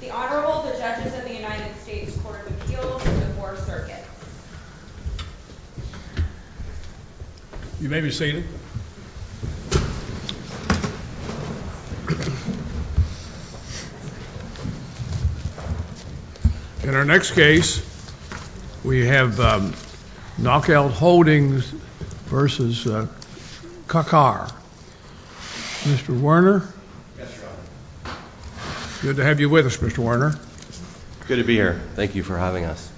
The Honorable, the Judges of the United States Court of Appeals in the 4th Circuit You may be seated In our next case, we have Knockout Holdings v. Kakar Mr. Werner Yes, Your Honor Good to have you with us, Mr. Werner Good to be here. Thank you for having us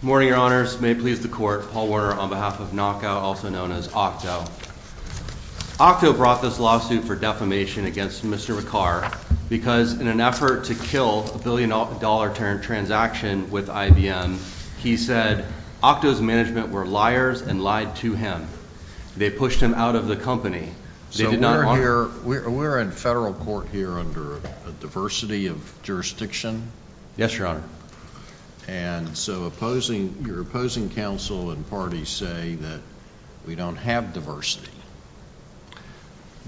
Good morning, Your Honors. May it please the Court, Paul Werner on behalf of Knockout, also known as Octo Octo brought this lawsuit for defamation against Mr. Kakar because in an effort to kill a billion dollar transaction with IBM he said, Octo's management were liars and lied to him They pushed him out of the company So we're in federal court here under a diversity of jurisdiction? Yes, Your Honor And so your opposing counsel and parties say that we don't have diversity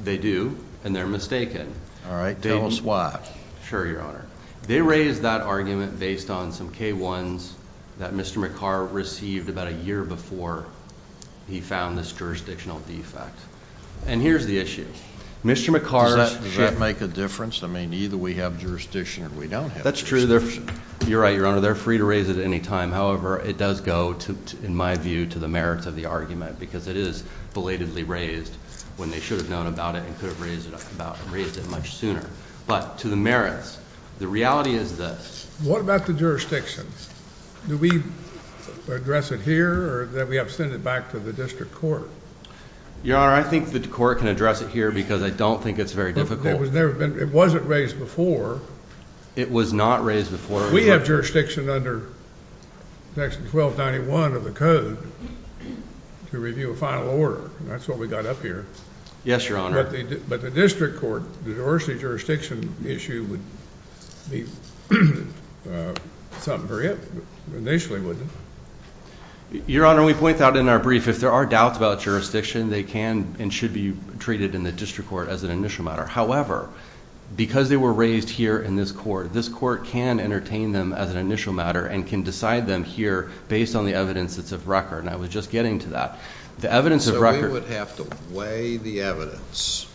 They do, and they're mistaken Alright, tell us why Sure, Your Honor They raised that argument based on some K-1s that Mr. Kakar received about a year before he found this jurisdictional defect And here's the issue Mr. Kakar Does that make a difference? I mean, either we have jurisdiction or we don't have jurisdiction That's true You're right, Your Honor. They're free to raise it at any time However, it does go, in my view, to the merits of the argument because it is belatedly raised when they should have known about it and could have raised it much sooner But to the merits, the reality is this What about the jurisdiction? Do we address it here or do we have to send it back to the district court? Your Honor, I think the court can address it here because I don't think it's very difficult It wasn't raised before It was not raised before We have jurisdiction under Section 1291 of the Code to review a final order That's what we got up here Yes, Your Honor But the district court, the diversity of jurisdiction issue would be something for it, initially, wouldn't it? Your Honor, we point that out in our brief If there are doubts about jurisdiction, they can and should be treated in the district court as an initial matter However, because they were raised here in this court, this court can entertain them as an initial matter and can decide them here based on the evidence that's of record And I was just getting to that The evidence of record So we would have to weigh the evidence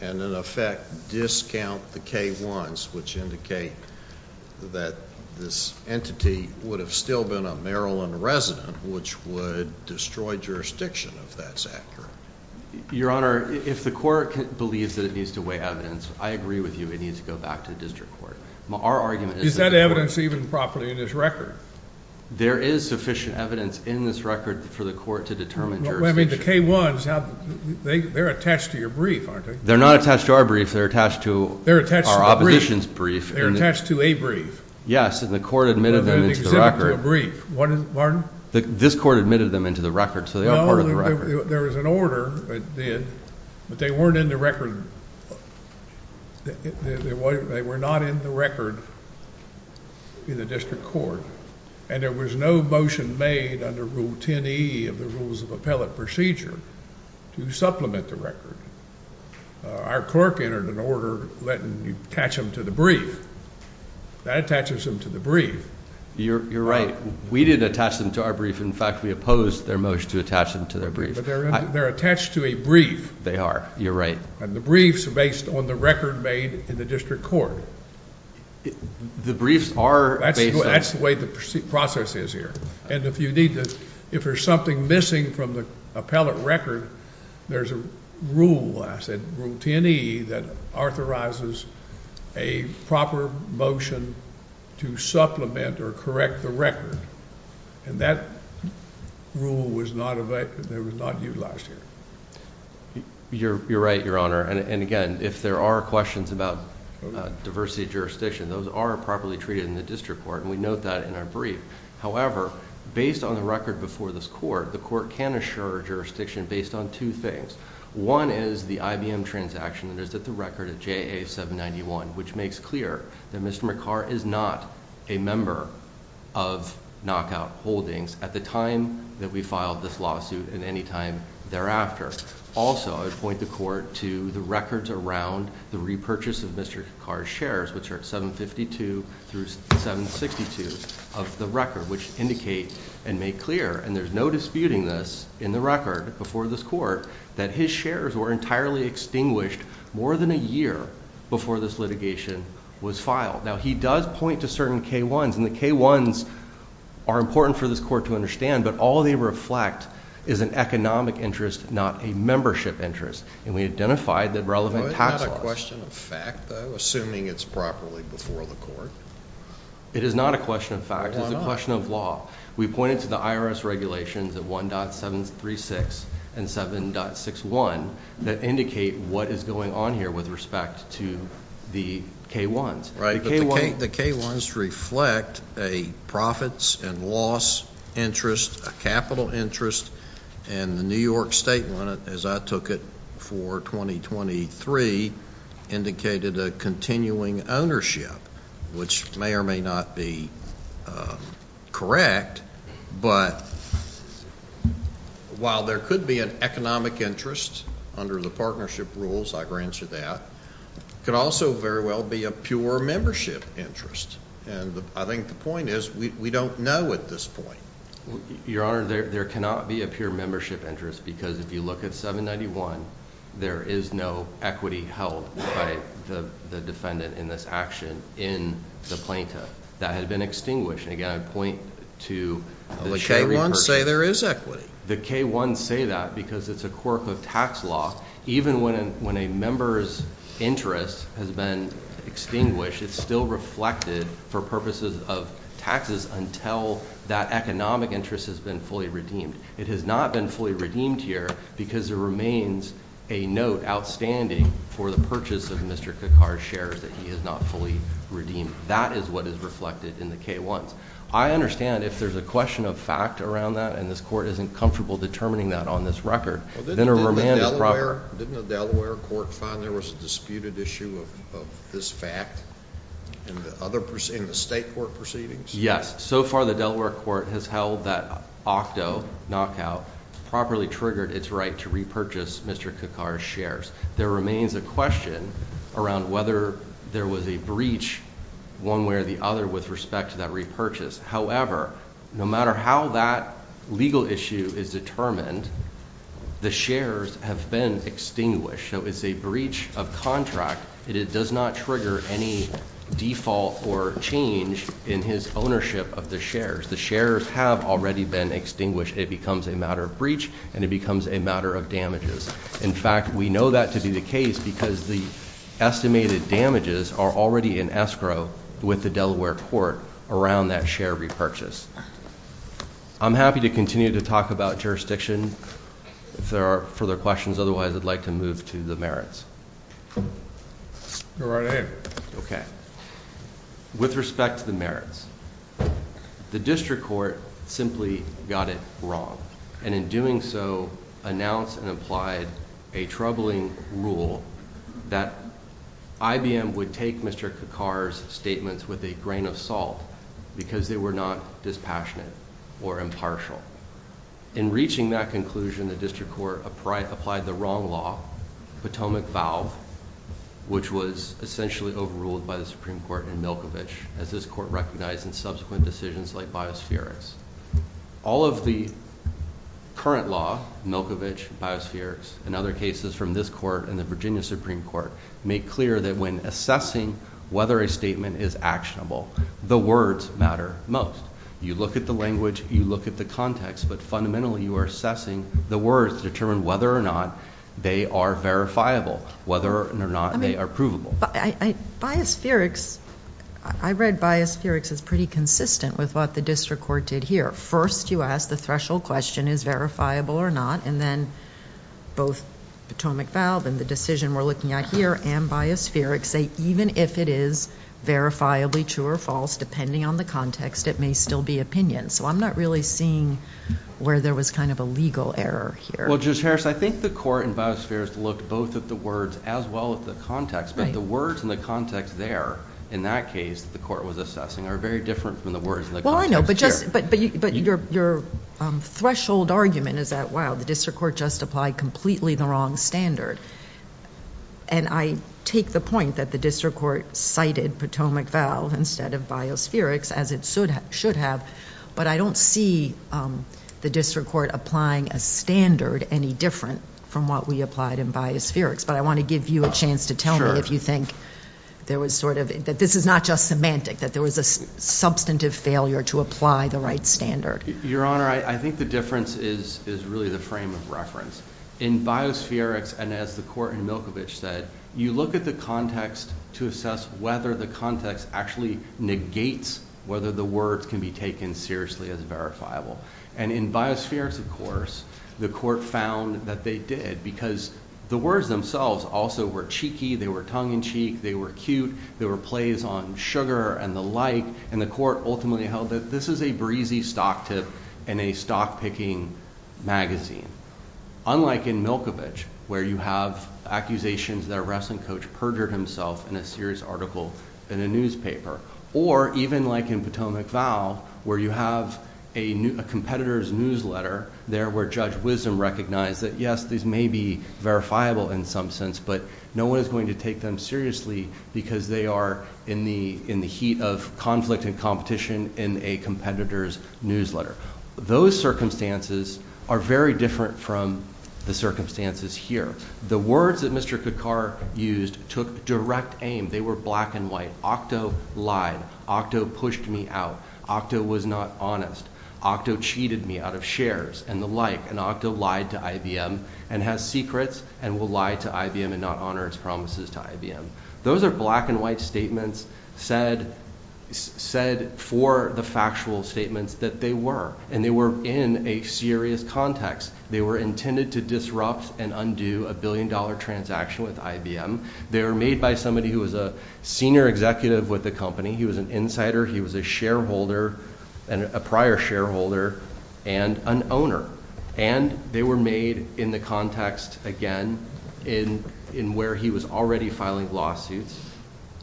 and in effect discount the K-1s which indicate that this entity would have still been a Maryland resident which would destroy jurisdiction if that's accurate Your Honor, if the court believes that it needs to weigh evidence, I agree with you It needs to go back to the district court Is that evidence even properly in this record? There is sufficient evidence in this record for the court to determine jurisdiction Well, I mean, the K-1s, they're attached to your brief, aren't they? They're not attached to our brief, they're attached to our opposition's brief They're attached to a brief Yes, and the court admitted them into the record They're an exhibit to a brief Pardon? This court admitted them into the record, so they are part of the record Well, there was an order that did, but they weren't in the record They were not in the record in the district court And there was no motion made under Rule 10e of the Rules of Appellate Procedure to supplement the record Our clerk entered an order letting you attach them to the brief That attaches them to the brief You're right, we did attach them to our brief In fact, we opposed their motion to attach them to their brief But they're attached to a brief They are, you're right And the brief's based on the record made in the district court The briefs are based on That's the way the process is here And if there's something missing from the appellate record There's a rule, I said, Rule 10e That authorizes a proper motion to supplement or correct the record And that rule was not utilized here You're right, Your Honor And again, if there are questions about diversity of jurisdiction Those are properly treated in the district court And we note that in our brief However, based on the record before this court The court can assure jurisdiction based on two things One is the IBM transaction that is at the record of JA-791 Which makes clear that Mr. McCarr is not a member of Knockout Holdings At the time that we filed this lawsuit and any time thereafter Also, I would point the court to the records around the repurchase of Mr. McCarr's shares Which are 752 through 762 of the record Which indicate and make clear And there's no disputing this in the record before this court That his shares were entirely extinguished more than a year Before this litigation was filed Now, he does point to certain K-1s And the K-1s are important for this court to understand But all they reflect is an economic interest Not a membership interest And we identified the relevant tax laws It's not a question of fact though Assuming it's properly before the court It is not a question of fact It's a question of law We pointed to the IRS regulations of 1.736 and 7.61 That indicate what is going on here with respect to the K-1s The K-1s reflect a profits and loss interest A capital interest And the New York State one, as I took it for 2023 Indicated a continuing ownership Which may or may not be correct But while there could be an economic interest Under the partnership rules, I grant you that Could also very well be a pure membership interest And I think the point is we don't know at this point Your Honor, there cannot be a pure membership interest Because if you look at 7.91 There is no equity held by the defendant in this action In the plaintiff That had been extinguished And again, I point to The K-1s say there is equity The K-1s say that because it's a quirk of tax law Even when a member's interest has been extinguished It's still reflected for purposes of taxes Until that economic interest has been fully redeemed It has not been fully redeemed here Because there remains a note outstanding For the purchase of Mr. Kakar's shares That he has not fully redeemed That is what is reflected in the K-1s I understand if there's a question of fact around that And this court isn't comfortable determining that on this record Didn't the Delaware court find there was a disputed issue of this fact In the state court proceedings? Yes, so far the Delaware court has held that Octo knockout Properly triggered its right to repurchase Mr. Kakar's shares There remains a question around whether there was a breach One way or the other with respect to that repurchase However, no matter how that legal issue is determined The shares have been extinguished So it's a breach of contract It does not trigger any default or change In his ownership of the shares The shares have already been extinguished It becomes a matter of breach And it becomes a matter of damages In fact, we know that to be the case Because the estimated damages are already in escrow With the Delaware court around that share repurchase I'm happy to continue to talk about jurisdiction If there are further questions Otherwise, I'd like to move to the merits Go right ahead Okay, with respect to the merits The district court simply got it wrong And in doing so announced and applied a troubling rule That IBM would take Mr. Kakar's statements with a grain of salt Because they were not dispassionate or impartial In reaching that conclusion The district court applied the wrong law Potomac Valve Which was essentially overruled by the Supreme Court and Milkovich As this court recognized in subsequent decisions like biospherics All of the current law Milkovich, biospherics and other cases from this court And the Virginia Supreme Court Make clear that when assessing whether a statement is actionable The words matter most You look at the language, you look at the context But fundamentally you are assessing the words To determine whether or not they are verifiable Whether or not they are provable Biospherics, I read biospherics as pretty consistent With what the district court did here First you ask the threshold question Is it verifiable or not And then both Potomac Valve And the decision we're looking at here And biospherics say even if it is verifiably true or false Depending on the context it may still be opinion So I'm not really seeing where there was kind of a legal error here Well Judge Harris I think the court in biospherics Looked both at the words as well as the context But the words and the context there In that case the court was assessing Are very different from the words and the context here Well I know but your threshold argument is that Wow the district court just applied completely the wrong standard And I take the point that the district court Cited Potomac Valve instead of biospherics As it should have But I don't see the district court applying A standard any different From what we applied in biospherics But I want to give you a chance to tell me If you think there was sort of That this is not just semantic That there was a substantive failure To apply the right standard Your honor I think the difference is Is really the frame of reference In biospherics and as the court in Milkovich said You look at the context to assess Whether the context actually negates Whether the words can be taken seriously as verifiable And in biospherics of course The court found that they did Because the words themselves Also were cheeky They were tongue in cheek They were cute There were plays on sugar and the like And the court ultimately held that This is a breezy stock tip In a stock picking magazine Unlike in Milkovich Where you have accusations That a wrestling coach perjured himself In a serious article in a newspaper Or even like in Potomac Val Where you have a competitor's newsletter There where Judge Wisdom recognized That yes these may be verifiable in some sense But no one is going to take them seriously Because they are in the heat of conflict and competition In a competitor's newsletter Those circumstances are very different From the circumstances here The words that Mr. Kakar used Took direct aim They were black and white Octo lied Octo pushed me out Octo was not honest Octo cheated me out of shares And the like And Octo lied to IBM And has secrets And will lie to IBM And not honor its promises to IBM Those are black and white statements Said for the factual statements That they were And they were in a serious context They were intended to disrupt and undo A billion dollar transaction with IBM They were made by somebody who was a Senior executive with the company He was an insider He was a shareholder And a prior shareholder And an owner And they were made in the context again In where he was already filing lawsuits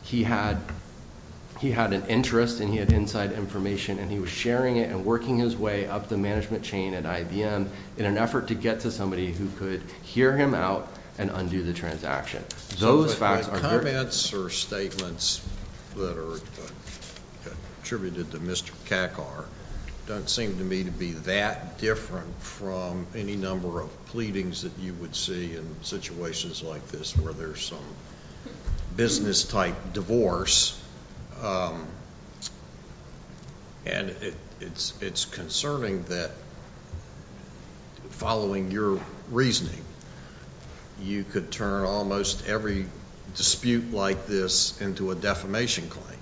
He had an interest And he had inside information And he was sharing it and working his way Up the management chain at IBM In an effort to get to somebody Who could hear him out And undo the transaction Those facts are The comments or statements That are attributed to Mr. Kakar Don't seem to me to be that different From any number of pleadings That you would see in situations like this Where there's some business type divorce And it's concerning that Following your reasoning You could turn almost every Dispute like this Into a defamation claim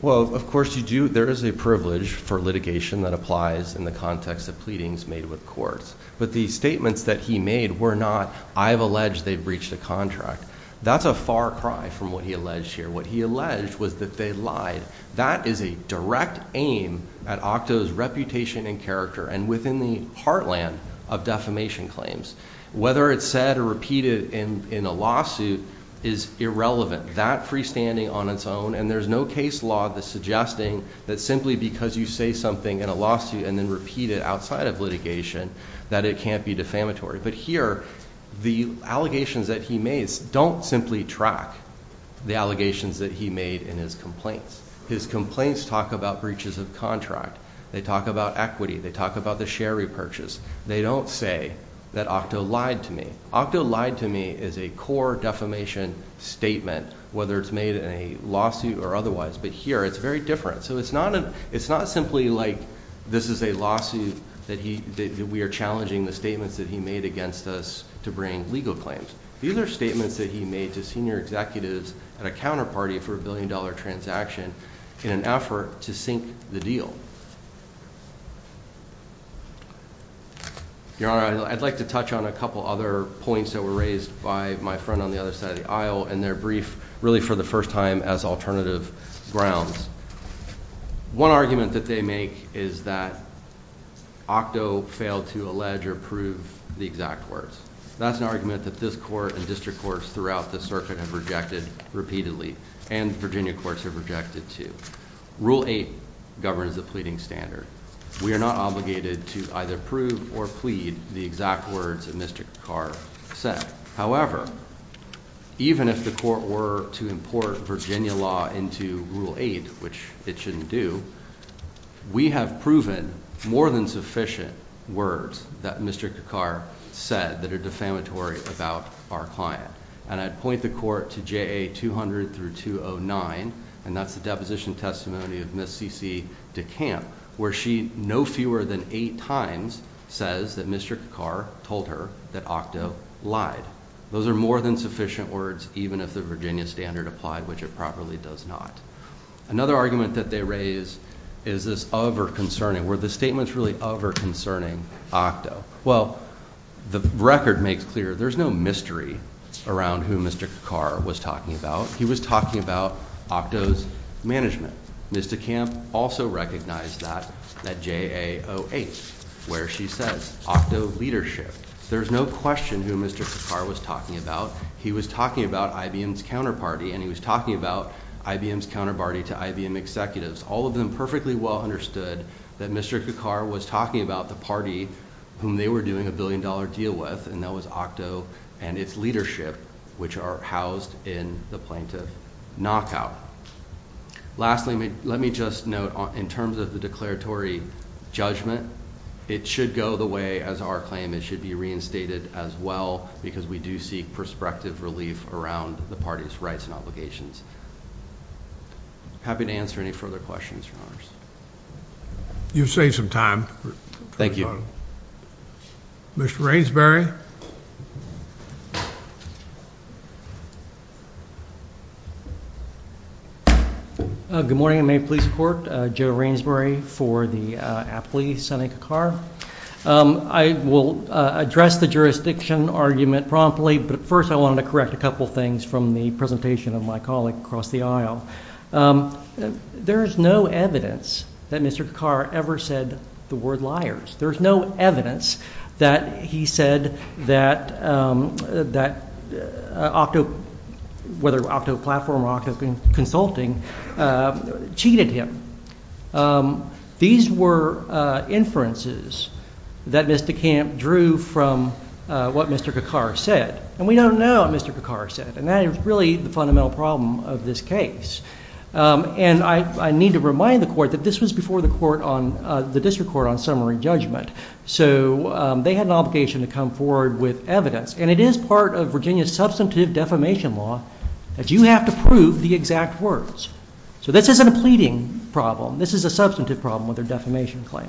Well of course you do There is a privilege for litigation That applies in the context of Pleadings made with courts But the statements that he made Were not I have alleged they breached a contract That's a far cry from what he alleged here What he alleged was that they lied That is a direct aim At Octo's reputation and character And within the heartland Of defamation claims Whether it's said or repeated In a lawsuit Is irrelevant That freestanding on its own And there's no case law That's suggesting That simply because you say something In a lawsuit And then repeat it outside of litigation That it can't be defamatory But here The allegations that he made Don't simply track The allegations that he made In his complaints His complaints talk about Breaches of contract They talk about equity They talk about the share repurchase They don't say That Octo lied to me Octo lied to me Is a core defamation statement Whether it's made in a lawsuit Or otherwise But here it's very different So it's not It's not simply like This is a lawsuit That we are challenging The statements that he made Against us To bring legal claims These are statements that he made To senior executives At a counterparty For a billion dollar transaction In an effort to sink the deal Your honor I'd like to touch on a couple other Points that were raised By my friend on the other side of the aisle In their brief Really for the first time As alternative grounds One argument that they make Is that Octo failed to allege Or prove the exact words That's an argument That this court And district courts Throughout the circuit Have rejected Repeatedly And Virginia courts Have rejected too Rule 8 Governs the pleading standard We are not obligated To either prove Or plead The exact words That Mr. Kakar said However Even if the court were To import Virginia law Into rule 8 Which it shouldn't do We have proven More than sufficient Words That Mr. Kakar said That are defamatory About our client And I'd point the court To JA 200 through 209 And that's the deposition testimony Of Ms. C.C. DeCamp Where she No fewer than 8 times Says that Mr. Kakar Told her That Octo Lied Those are more than sufficient words Even if the Virginia standard applied Which it probably does not Another argument that they raise Is this Over concerning Were the statements really Over concerning Octo Well The record makes clear There's no mystery Around who Mr. Kakar Was talking about He was talking about Octo's management Ms. DeCamp Also recognized that At JA 08 Where she says Octo leadership There's no question Who Mr. Kakar was talking about He was talking about IBM's counterparty And he was talking about IBM's counterparty To IBM executives All of them Perfectly well understood That Mr. Kakar Was talking about The party Whom they were doing A billion dollar deal with And that was Octo And its leadership Which are housed In the plaintiff Knockout Lastly Let me just note In terms of the declaratory Judgment It should go the way As our claim It should be reinstated As well Because we do seek Perspective relief Around the party's Rights and obligations Happy to answer Any further questions Your honors You've saved some time Thank you Mr. Rainsbury Good morning May it please the court Joe Rainsbury For the Aptly Senator Kakar I will Address the Jurisdiction Argument promptly But first I want to correct A couple things From the presentation Of my colleague Across the aisle There is no evidence That Mr. Kakar Ever said The word liars There is no evidence That he said The word liars That Octo Whether Octo Platform Or Octo Consulting Cheated him These were Inferences That Mr. Kamp Drew from What Mr. Kakar Said And we don't know What Mr. Kakar Said And that is really The fundamental problem Of this case And I Need to remind The court That this was before The court On The district court On summary judgment So They had An obligation To come forward With evidence And it is part Of Virginia's Substantive Defamation Law That you have To prove The exact Words So this isn't A pleading Problem This is a Substantive Problem With their Defamation Claim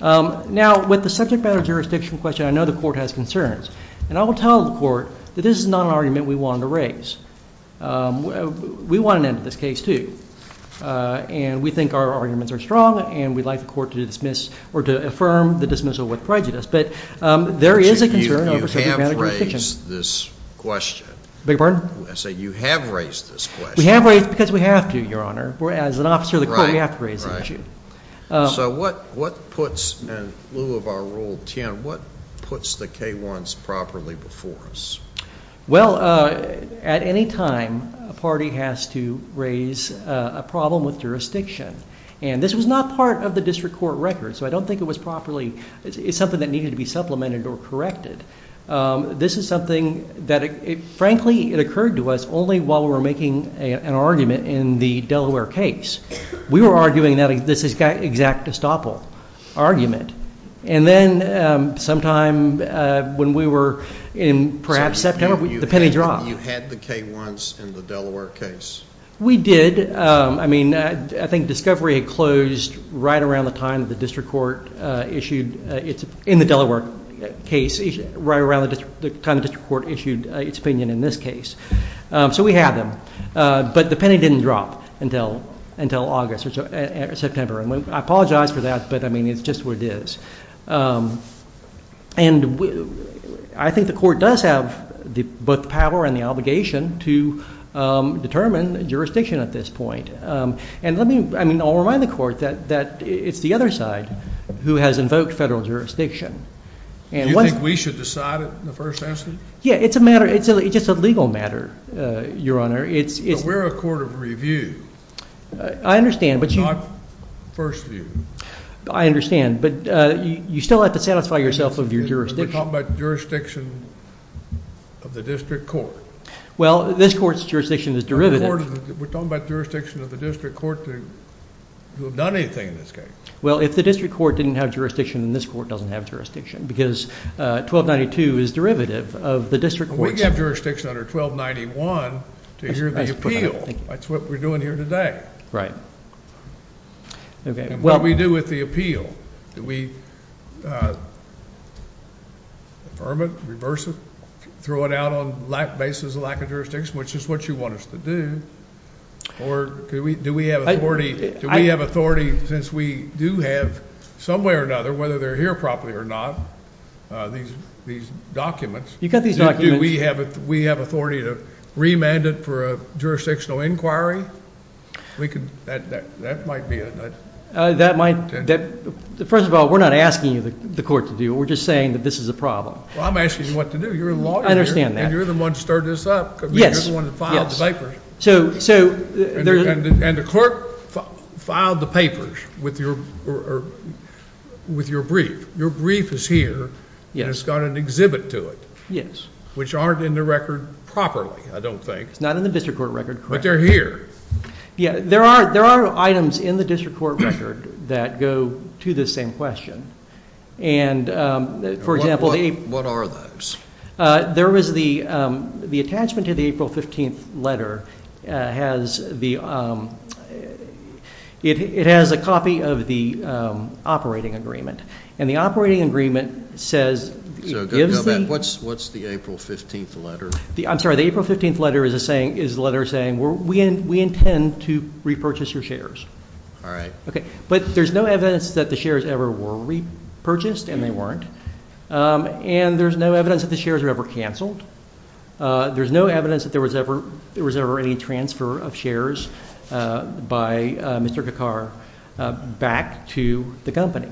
Now With the Subject matter Jurisdiction Question I know The court Has concerns And I will tell The court That this is not An argument We want To raise We want To end This case To And we Think our Arguments Are strong And we Would like The court To dismiss Or to The dismissal With prejudice But there Is a Concern You have Raised This question We have Raised Because we Have to Your honor As an Officer Of the Court We have To raise The issue So what Puts The K-1s Properly Before us Well At any Time A party Has to Raise A problem With Jurisdiction And this Was not Part of The Court Record So I Don't Think It was Properly Supplemented Or corrected This is Something That frankly It occurred To us Only while We were Making an In the Delaware Case We were Arguing That this Is an Exact Argument And Then Sometime When we Were in Perhaps September The Penny Dropped You Had The K-1s In the Delaware Case We Did I Think Discovery Closed Right Around The Time The District Issued Its Opinion In This Case So we Had Them But The Penny Didn't Drop Until August Or I Apologize For That But I Mean It I That Want Some way or another, whether they're here properly or not. These these documents. You got these documents. Do we have it? We have authority to remand it for a jurisdictional inquiry. We could that that might be a that might First of all, we're not asking you the court to do. We're just saying that this is a problem. I'm asking you what to do. You're a lawyer. I understand that. And you're the one started this up. Yes. One of the files papers. So so there's And the court filed the papers with your With your brief. Your brief is here. It's got an exhibit To it. Yes, which aren't in the record properly. I don't think It's not in the district court record, but they're here. Yeah, there are there are Items in the district court record that go to the same question. And for example, what are those? There was the the attachment to the April 15th letter Has the it Has a copy of the operating agreement and the operating Agreement says what's what's the April 15th Letter? I'm sorry. The April 15th letter is a saying is letter saying we're we Intend to repurchase your shares. All right. OK, but there's No evidence that the shares ever were repurchased and they weren't And there's no evidence that the shares are ever canceled. There's No evidence that there was ever there was ever any transfer of shares By Mr. Kakaar back to the company.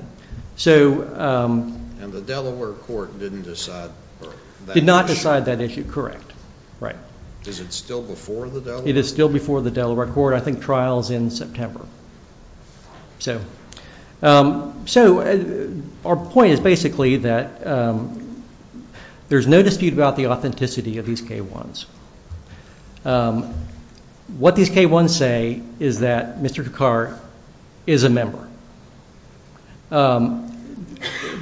So and the Delaware court didn't decide Did not decide that issue. Correct. Right. Is it still Before the it is still before the Delaware court. I think trials in September So so Our point is basically that there's no dispute About the authenticity of these K1s. What these K1s say is that Mr. Kakaar is A member.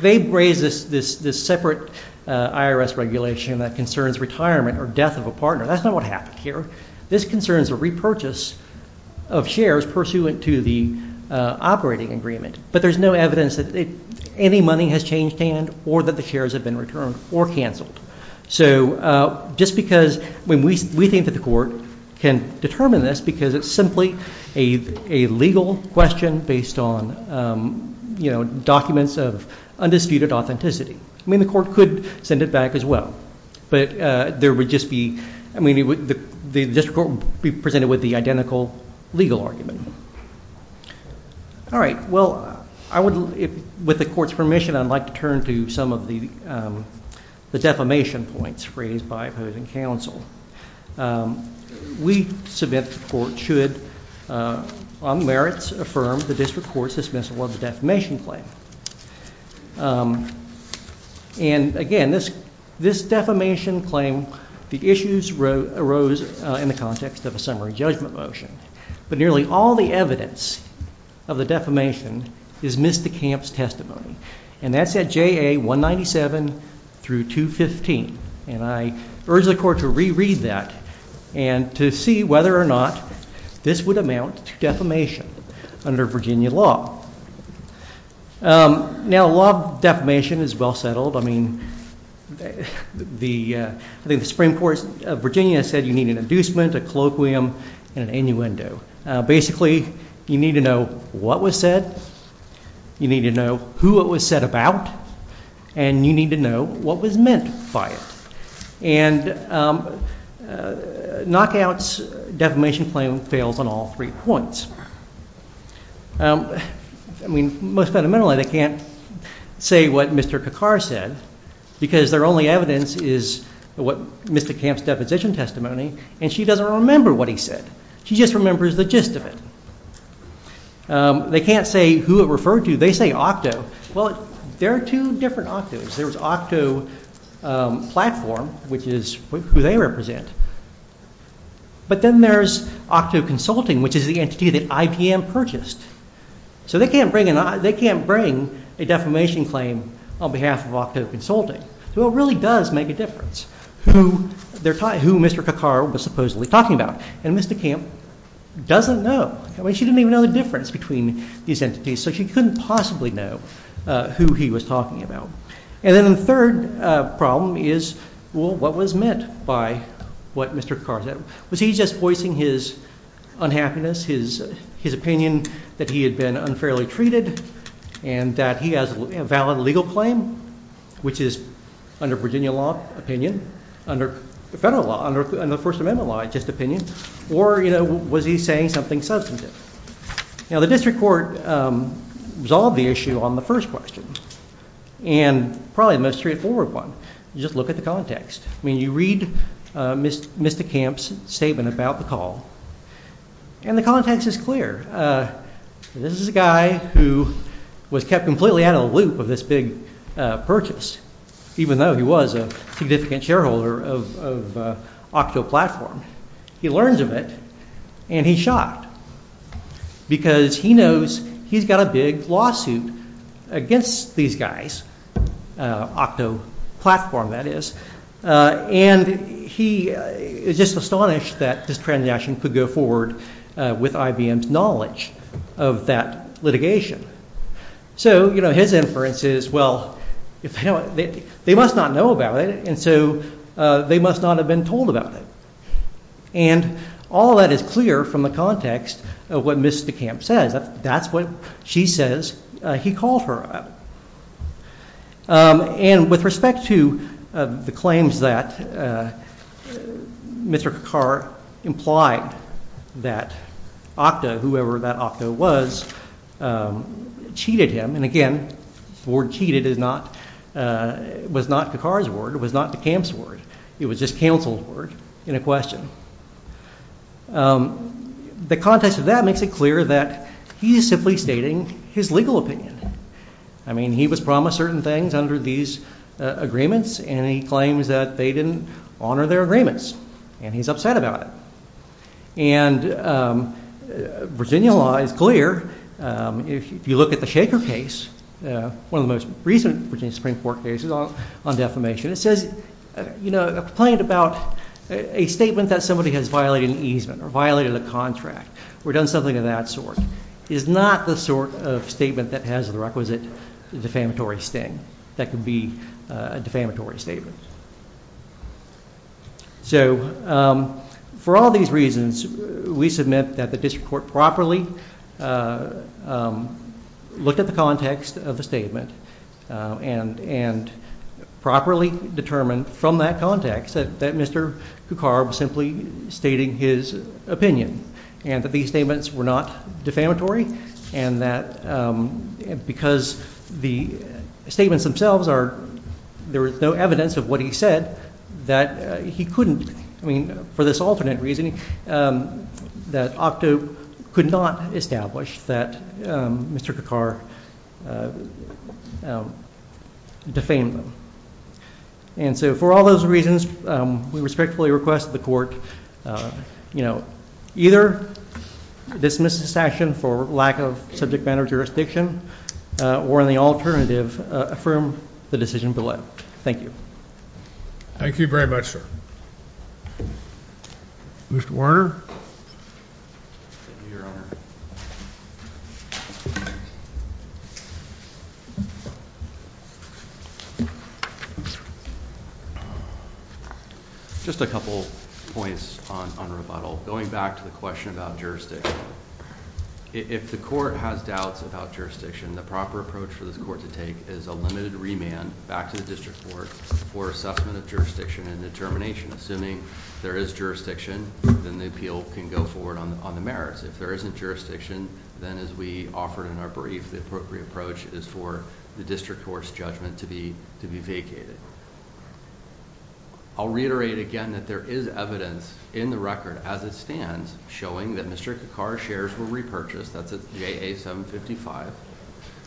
They raise This this this separate IRS regulation that concerns retirement Or death of a partner. That's not what happened here. This concerns a repurchase Of shares pursuant to the operating agreement But there's no evidence that any money has changed hand or that the shares Have been returned or canceled. So just because We think that the court can determine this because it's simply A legal question based on Documents of undisputed authenticity. I mean, the court could send it back As well, but there would just be The district court would be presented with the identical legal argument. All right. Well, I would with the court's permission I'd like to turn to some of the defamation points Raised by opposing counsel. We submit The court should on merits affirm the district Court's dismissal of the defamation claim And again, this this defamation claim The issues rose in the context of a summary judgment motion But nearly all the evidence of the defamation Is missed the camp's testimony. And that's at J.A. 197 Through 215. And I urge the court to Reread that and to see whether or not this would Amount to defamation under Virginia law. Now, law of defamation is well settled. I mean The Supreme Court of Virginia said you need An inducement, a colloquium, and an innuendo. Basically You need to know what was said. You need to know Who it was said about. And you need to know what was meant By it. And knockouts Defamation claim fails on all three points. I mean, most fundamentally they can't say What Mr. Kakar said because their only evidence is What Mr. Camp's deposition testimony and she doesn't remember what he said She just remembers the gist of it. They can't say Who it referred to. They say OCTO. Well, there are two different OCTOs There's OCTO Platform, which is who they Represent. But then there's OCTO Consulting Which is the entity that IPM purchased. So they can't bring A defamation claim on behalf of OCTO Consulting So it really does make a difference who Mr. Kakar Was supposedly talking about. And Mr. Camp doesn't know. She didn't even know the difference between these entities. So she couldn't possibly know Who he was talking about. And then the third problem is Well, what was meant by what Mr. Kakar said? Was he just voicing his unhappiness, his opinion That he had been unfairly treated and that he has a valid legal Claim, which is under Virginia law opinion Under federal law, under the First Amendment law, just opinion Or was he saying something substantive? Now the district court Resolved the issue on the first question. And Probably the most straightforward one. You just look at the context. I mean you read Mr. Camp's statement about the call And the context is clear. This is a guy who Was kept completely out of the loop of this big purchase Even though he was a significant shareholder of OCTO Platform. He learns of it and he's shocked Because he knows he's got a big lawsuit Against these guys, OCTO Platform That is. And he is just astonished That this transaction could go forward with IBM's knowledge Of that litigation. So his inference Is well, they must not know about it and so They must not have been told about it. And all That is clear from the context of what Ms. DeCamp says. That's what She says he called her about. And with respect to the claims that Mr. Kakar implied that OCTO, whoever that OCTO was Cheated him. And again, the word cheated Was not Kakar's word. It was not DeCamp's word. It was Just counsel's word in a question. The context of that makes it clear that he is simply stating His legal opinion. I mean he was promised certain things under these Agreements and he claims that they didn't honor their agreements. And he's upset about it. And Virginia law is clear. If you look At the Shaker case, one of the most recent Virginia Supreme Court cases On defamation, it says, you know, a complaint about A statement that somebody has violated an easement or violated a contract Or done something of that sort is not the sort of statement that has the requisite Defamatory sting. That could be a defamatory Statement. So For all these reasons, we submit that the district court Properly looked at the context Of the statement and properly Determined from that context that Mr. Kakar was simply Stating his opinion and that these statements were not defamatory And that because the Statements themselves are, there is no evidence of what he said That he couldn't, I mean, for this alternate reasoning That Octo could not establish that Mr. Kakar Defamed them. And so for all those reasons We respectfully request the court, you know, either Dismiss this action for lack of subject matter jurisdiction Or in the alternative, affirm the decision below. Thank you. Thank you very much, sir. Mr. Warner. Just a couple points on rebuttal. Going back to the question about Jurisdiction. If the court has doubts about jurisdiction The proper approach for this court to take is a limited remand back to the district Court for assessment of jurisdiction and determination. Assuming there is Jurisdiction, then the appeal can go forward on the merits. If there isn't Jurisdiction, then as we offered in our brief, the appropriate approach is for The district court's judgment to be vacated. I'll reiterate again that there is evidence in the record As it stands showing that Mr. Kakar's shares were repurchased. That's JA-755.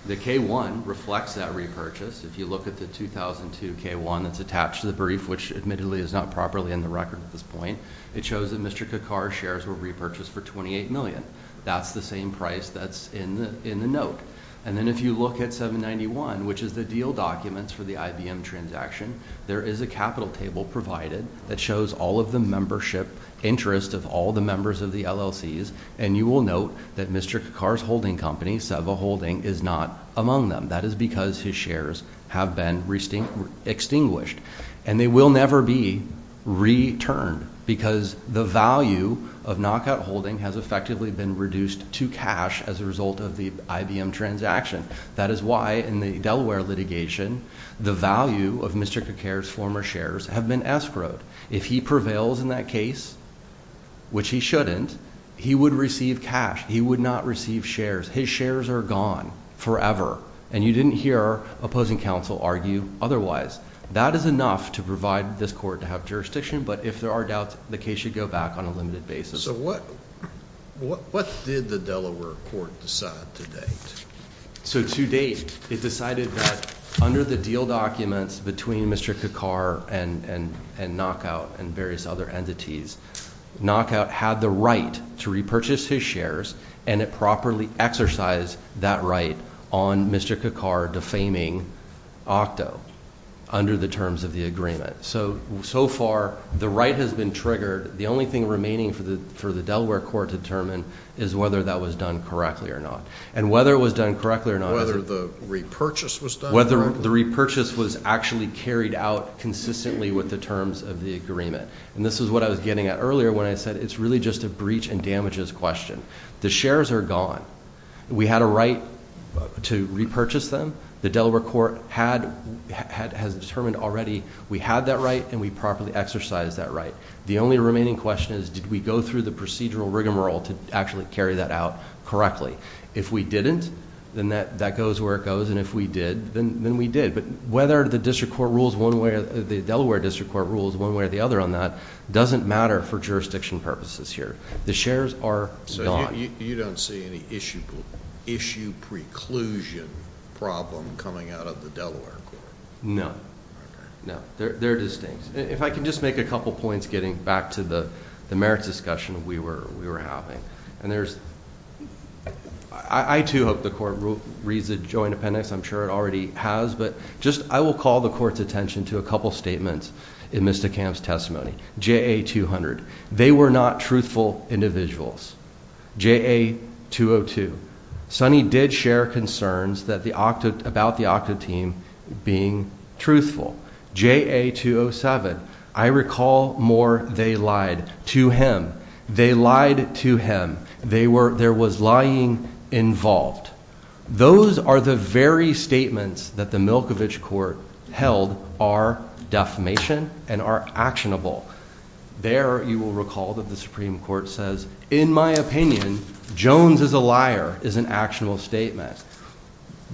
The K-1 reflects that repurchase. If you look at the 2002 K-1 that's attached to the brief, which Admittedly is not properly in the record at this point, it shows that Mr. Kakar's shares Were repurchased for $28 million. That's the same price that's in the Note. And then if you look at 791, which is the deal documents For the IBM transaction, there is a capital table provided that Shows all of the membership interest of all the members of the LLCs And you will note that Mr. Kakar's holding company, Seva Holding, is not Among them. That is because his shares have been Extinguished. And they will never be returned because The value of Knockout Holding has effectively been reduced To cash as a result of the IBM transaction. That is why In the Delaware litigation, the value of Mr. Kakar's former Shares have been escrowed. If he prevails in that case, Which he shouldn't, he would receive cash. He would not Receive shares. His shares are gone forever. And you didn't hear Our opposing counsel argue otherwise. That is enough to provide This court to have jurisdiction, but if there are doubts, the case should go back on a limited basis. So what did the Delaware court decide To date? So to date, it decided that under The deal documents between Mr. Kakar and Knockout And various other entities, Knockout had the right to repurchase His shares and it properly exercised that right On Mr. Kakar defaming Octo Under the terms of the agreement. So, so far, the right has been Triggered. The only thing remaining for the Delaware court to determine is whether That was done correctly or not. And whether it was done correctly or not Whether the repurchase was done correctly. Whether the repurchase was actually carried out Consistently with the terms of the agreement. And this is what I was getting at earlier When I said it's really just a breach and damages question. The shares are gone. We had a right to repurchase them. The Delaware Court has determined already we had that right And we properly exercised that right. The only remaining question is did we go through the Procedural rigmarole to actually carry that out correctly. If we didn't Then that goes where it goes. And if we did, then we did. But whether the district court rules one way or the Delaware district court rules one way or the other On that doesn't matter for jurisdiction purposes here. The shares Are gone. So you don't see any issue preclusion Problem coming out of the Delaware court? No. They're distinct. If I can just make a couple points getting Back to the merits discussion we were having. And there's I too hope the court reads the joint Appendix. I'm sure it already has. But just I will call the court's attention to a couple Statements in Mr. Camp's testimony. J.A. 200. They Were not truthful individuals. J.A. 202 Sonny did share concerns that the Octa about the Octa Team being truthful. J.A. 207 I recall more. They lied to him. They Lied to him. They were there was lying involved Those are the very statements that the Milkovich court Held are defamation and are actionable There you will recall that the Supreme Court says in my Opinion Jones is a liar is an actionable statement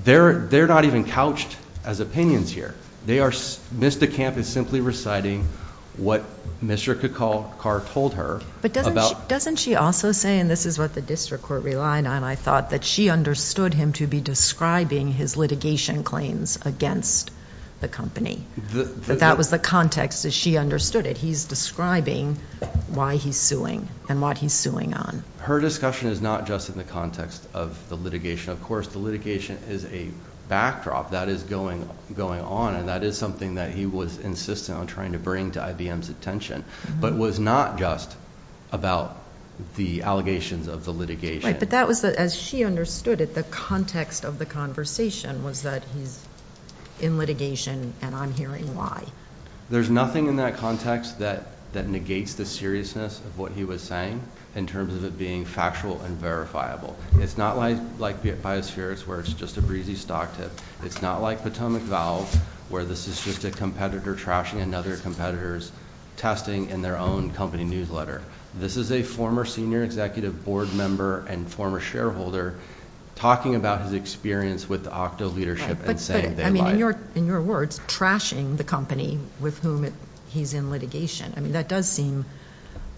They're they're not even couched as opinions here. They are Mr. Camp is simply reciting what Mr. Kacar Told her. But doesn't she also say and this is what the district court Relied on. I thought that she understood him to be describing his litigation Claims against the company. That was the Context that she understood it. He's describing why he's suing And what he's suing on. Her discussion is not just in the context of The litigation. Of course, the litigation is a backdrop that is going Going on. And that is something that he was insistent on trying to bring to IBM's attention but was not just about The allegations of the litigation. But that was as she understood It. The context of the conversation was that he's In litigation and I'm hearing why there's nothing in that context That that negates the seriousness of what he was saying in terms of It being factual and verifiable. It's not like like biospheres Where it's just a breezy stock tip. It's not like Potomac valve where this Is just a competitor trashing another competitors testing in their Own company newsletter. This is a former senior executive board member And former shareholder talking about his experience with Octo leadership and saying they lied. In your words, trashing the company With whom he's in litigation. That does seem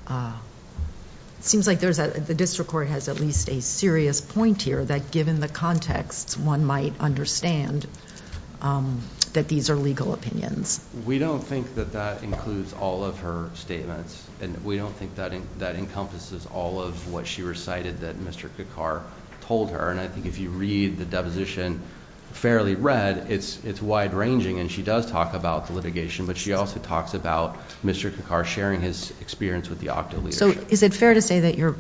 It seems like the district court has at least a serious Point here that given the context one might understand That these are legal opinions. We don't think that that Includes all of her statements and we don't think that that encompasses All of what she recited that Mr. Kekar told her. And I think If you read the deposition fairly read, it's it's wide ranging And she does talk about the litigation, but she also talks about Mr. Kekar Sharing his experience with the Octo. So is it fair to say that you're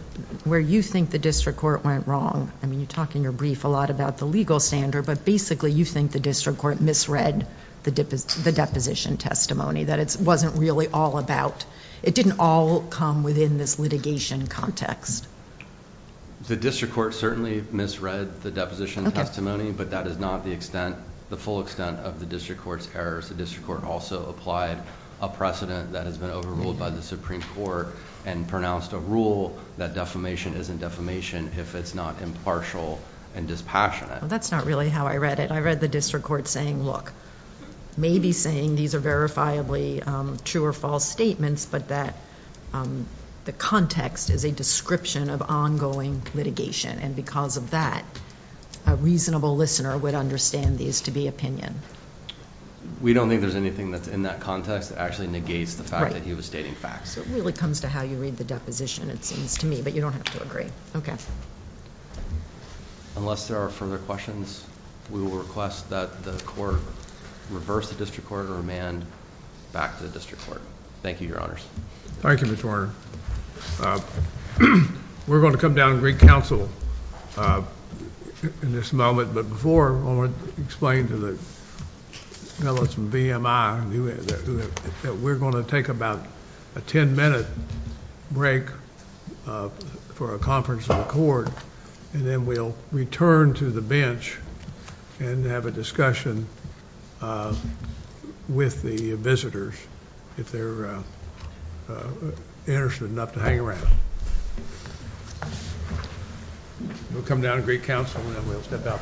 Where you think the district court went wrong? I mean, you talk in your brief a lot about the legal Standard, but basically you think the district court misread the Deposition testimony that it wasn't really all about It didn't all come within this litigation context. The district court certainly misread the deposition testimony, but that Is not the extent the full extent of the district court's errors. The district court Also applied a precedent that has been overruled by the Supreme Court And pronounced a rule that defamation isn't defamation if it's not Impartial and dispassionate. That's not really how I read it. I read the district Court saying, look, maybe saying these are verifiably True or false statements, but that the context Is a description of ongoing litigation. And because of that A reasonable listener would understand these to be opinion. We don't think there's anything that's in that context that actually negates the fact that He was stating facts. It really comes to how you read the deposition, it seems to me, but you don't have To agree. Okay. Unless there are further questions We will request that the court reverse the district court Or remand back to the district court. Thank you, your honors. Thank you, Mr. Warner. We're going to come down and greet Counsel in this moment, but before I want to explain to the fellows from VMI That we're going to take about a ten-minute break For a conference of the court, and then We'll return to the bench and have a discussion With the visitors if They're interested enough to hang around. We'll come down and greet counsel And then we'll step out.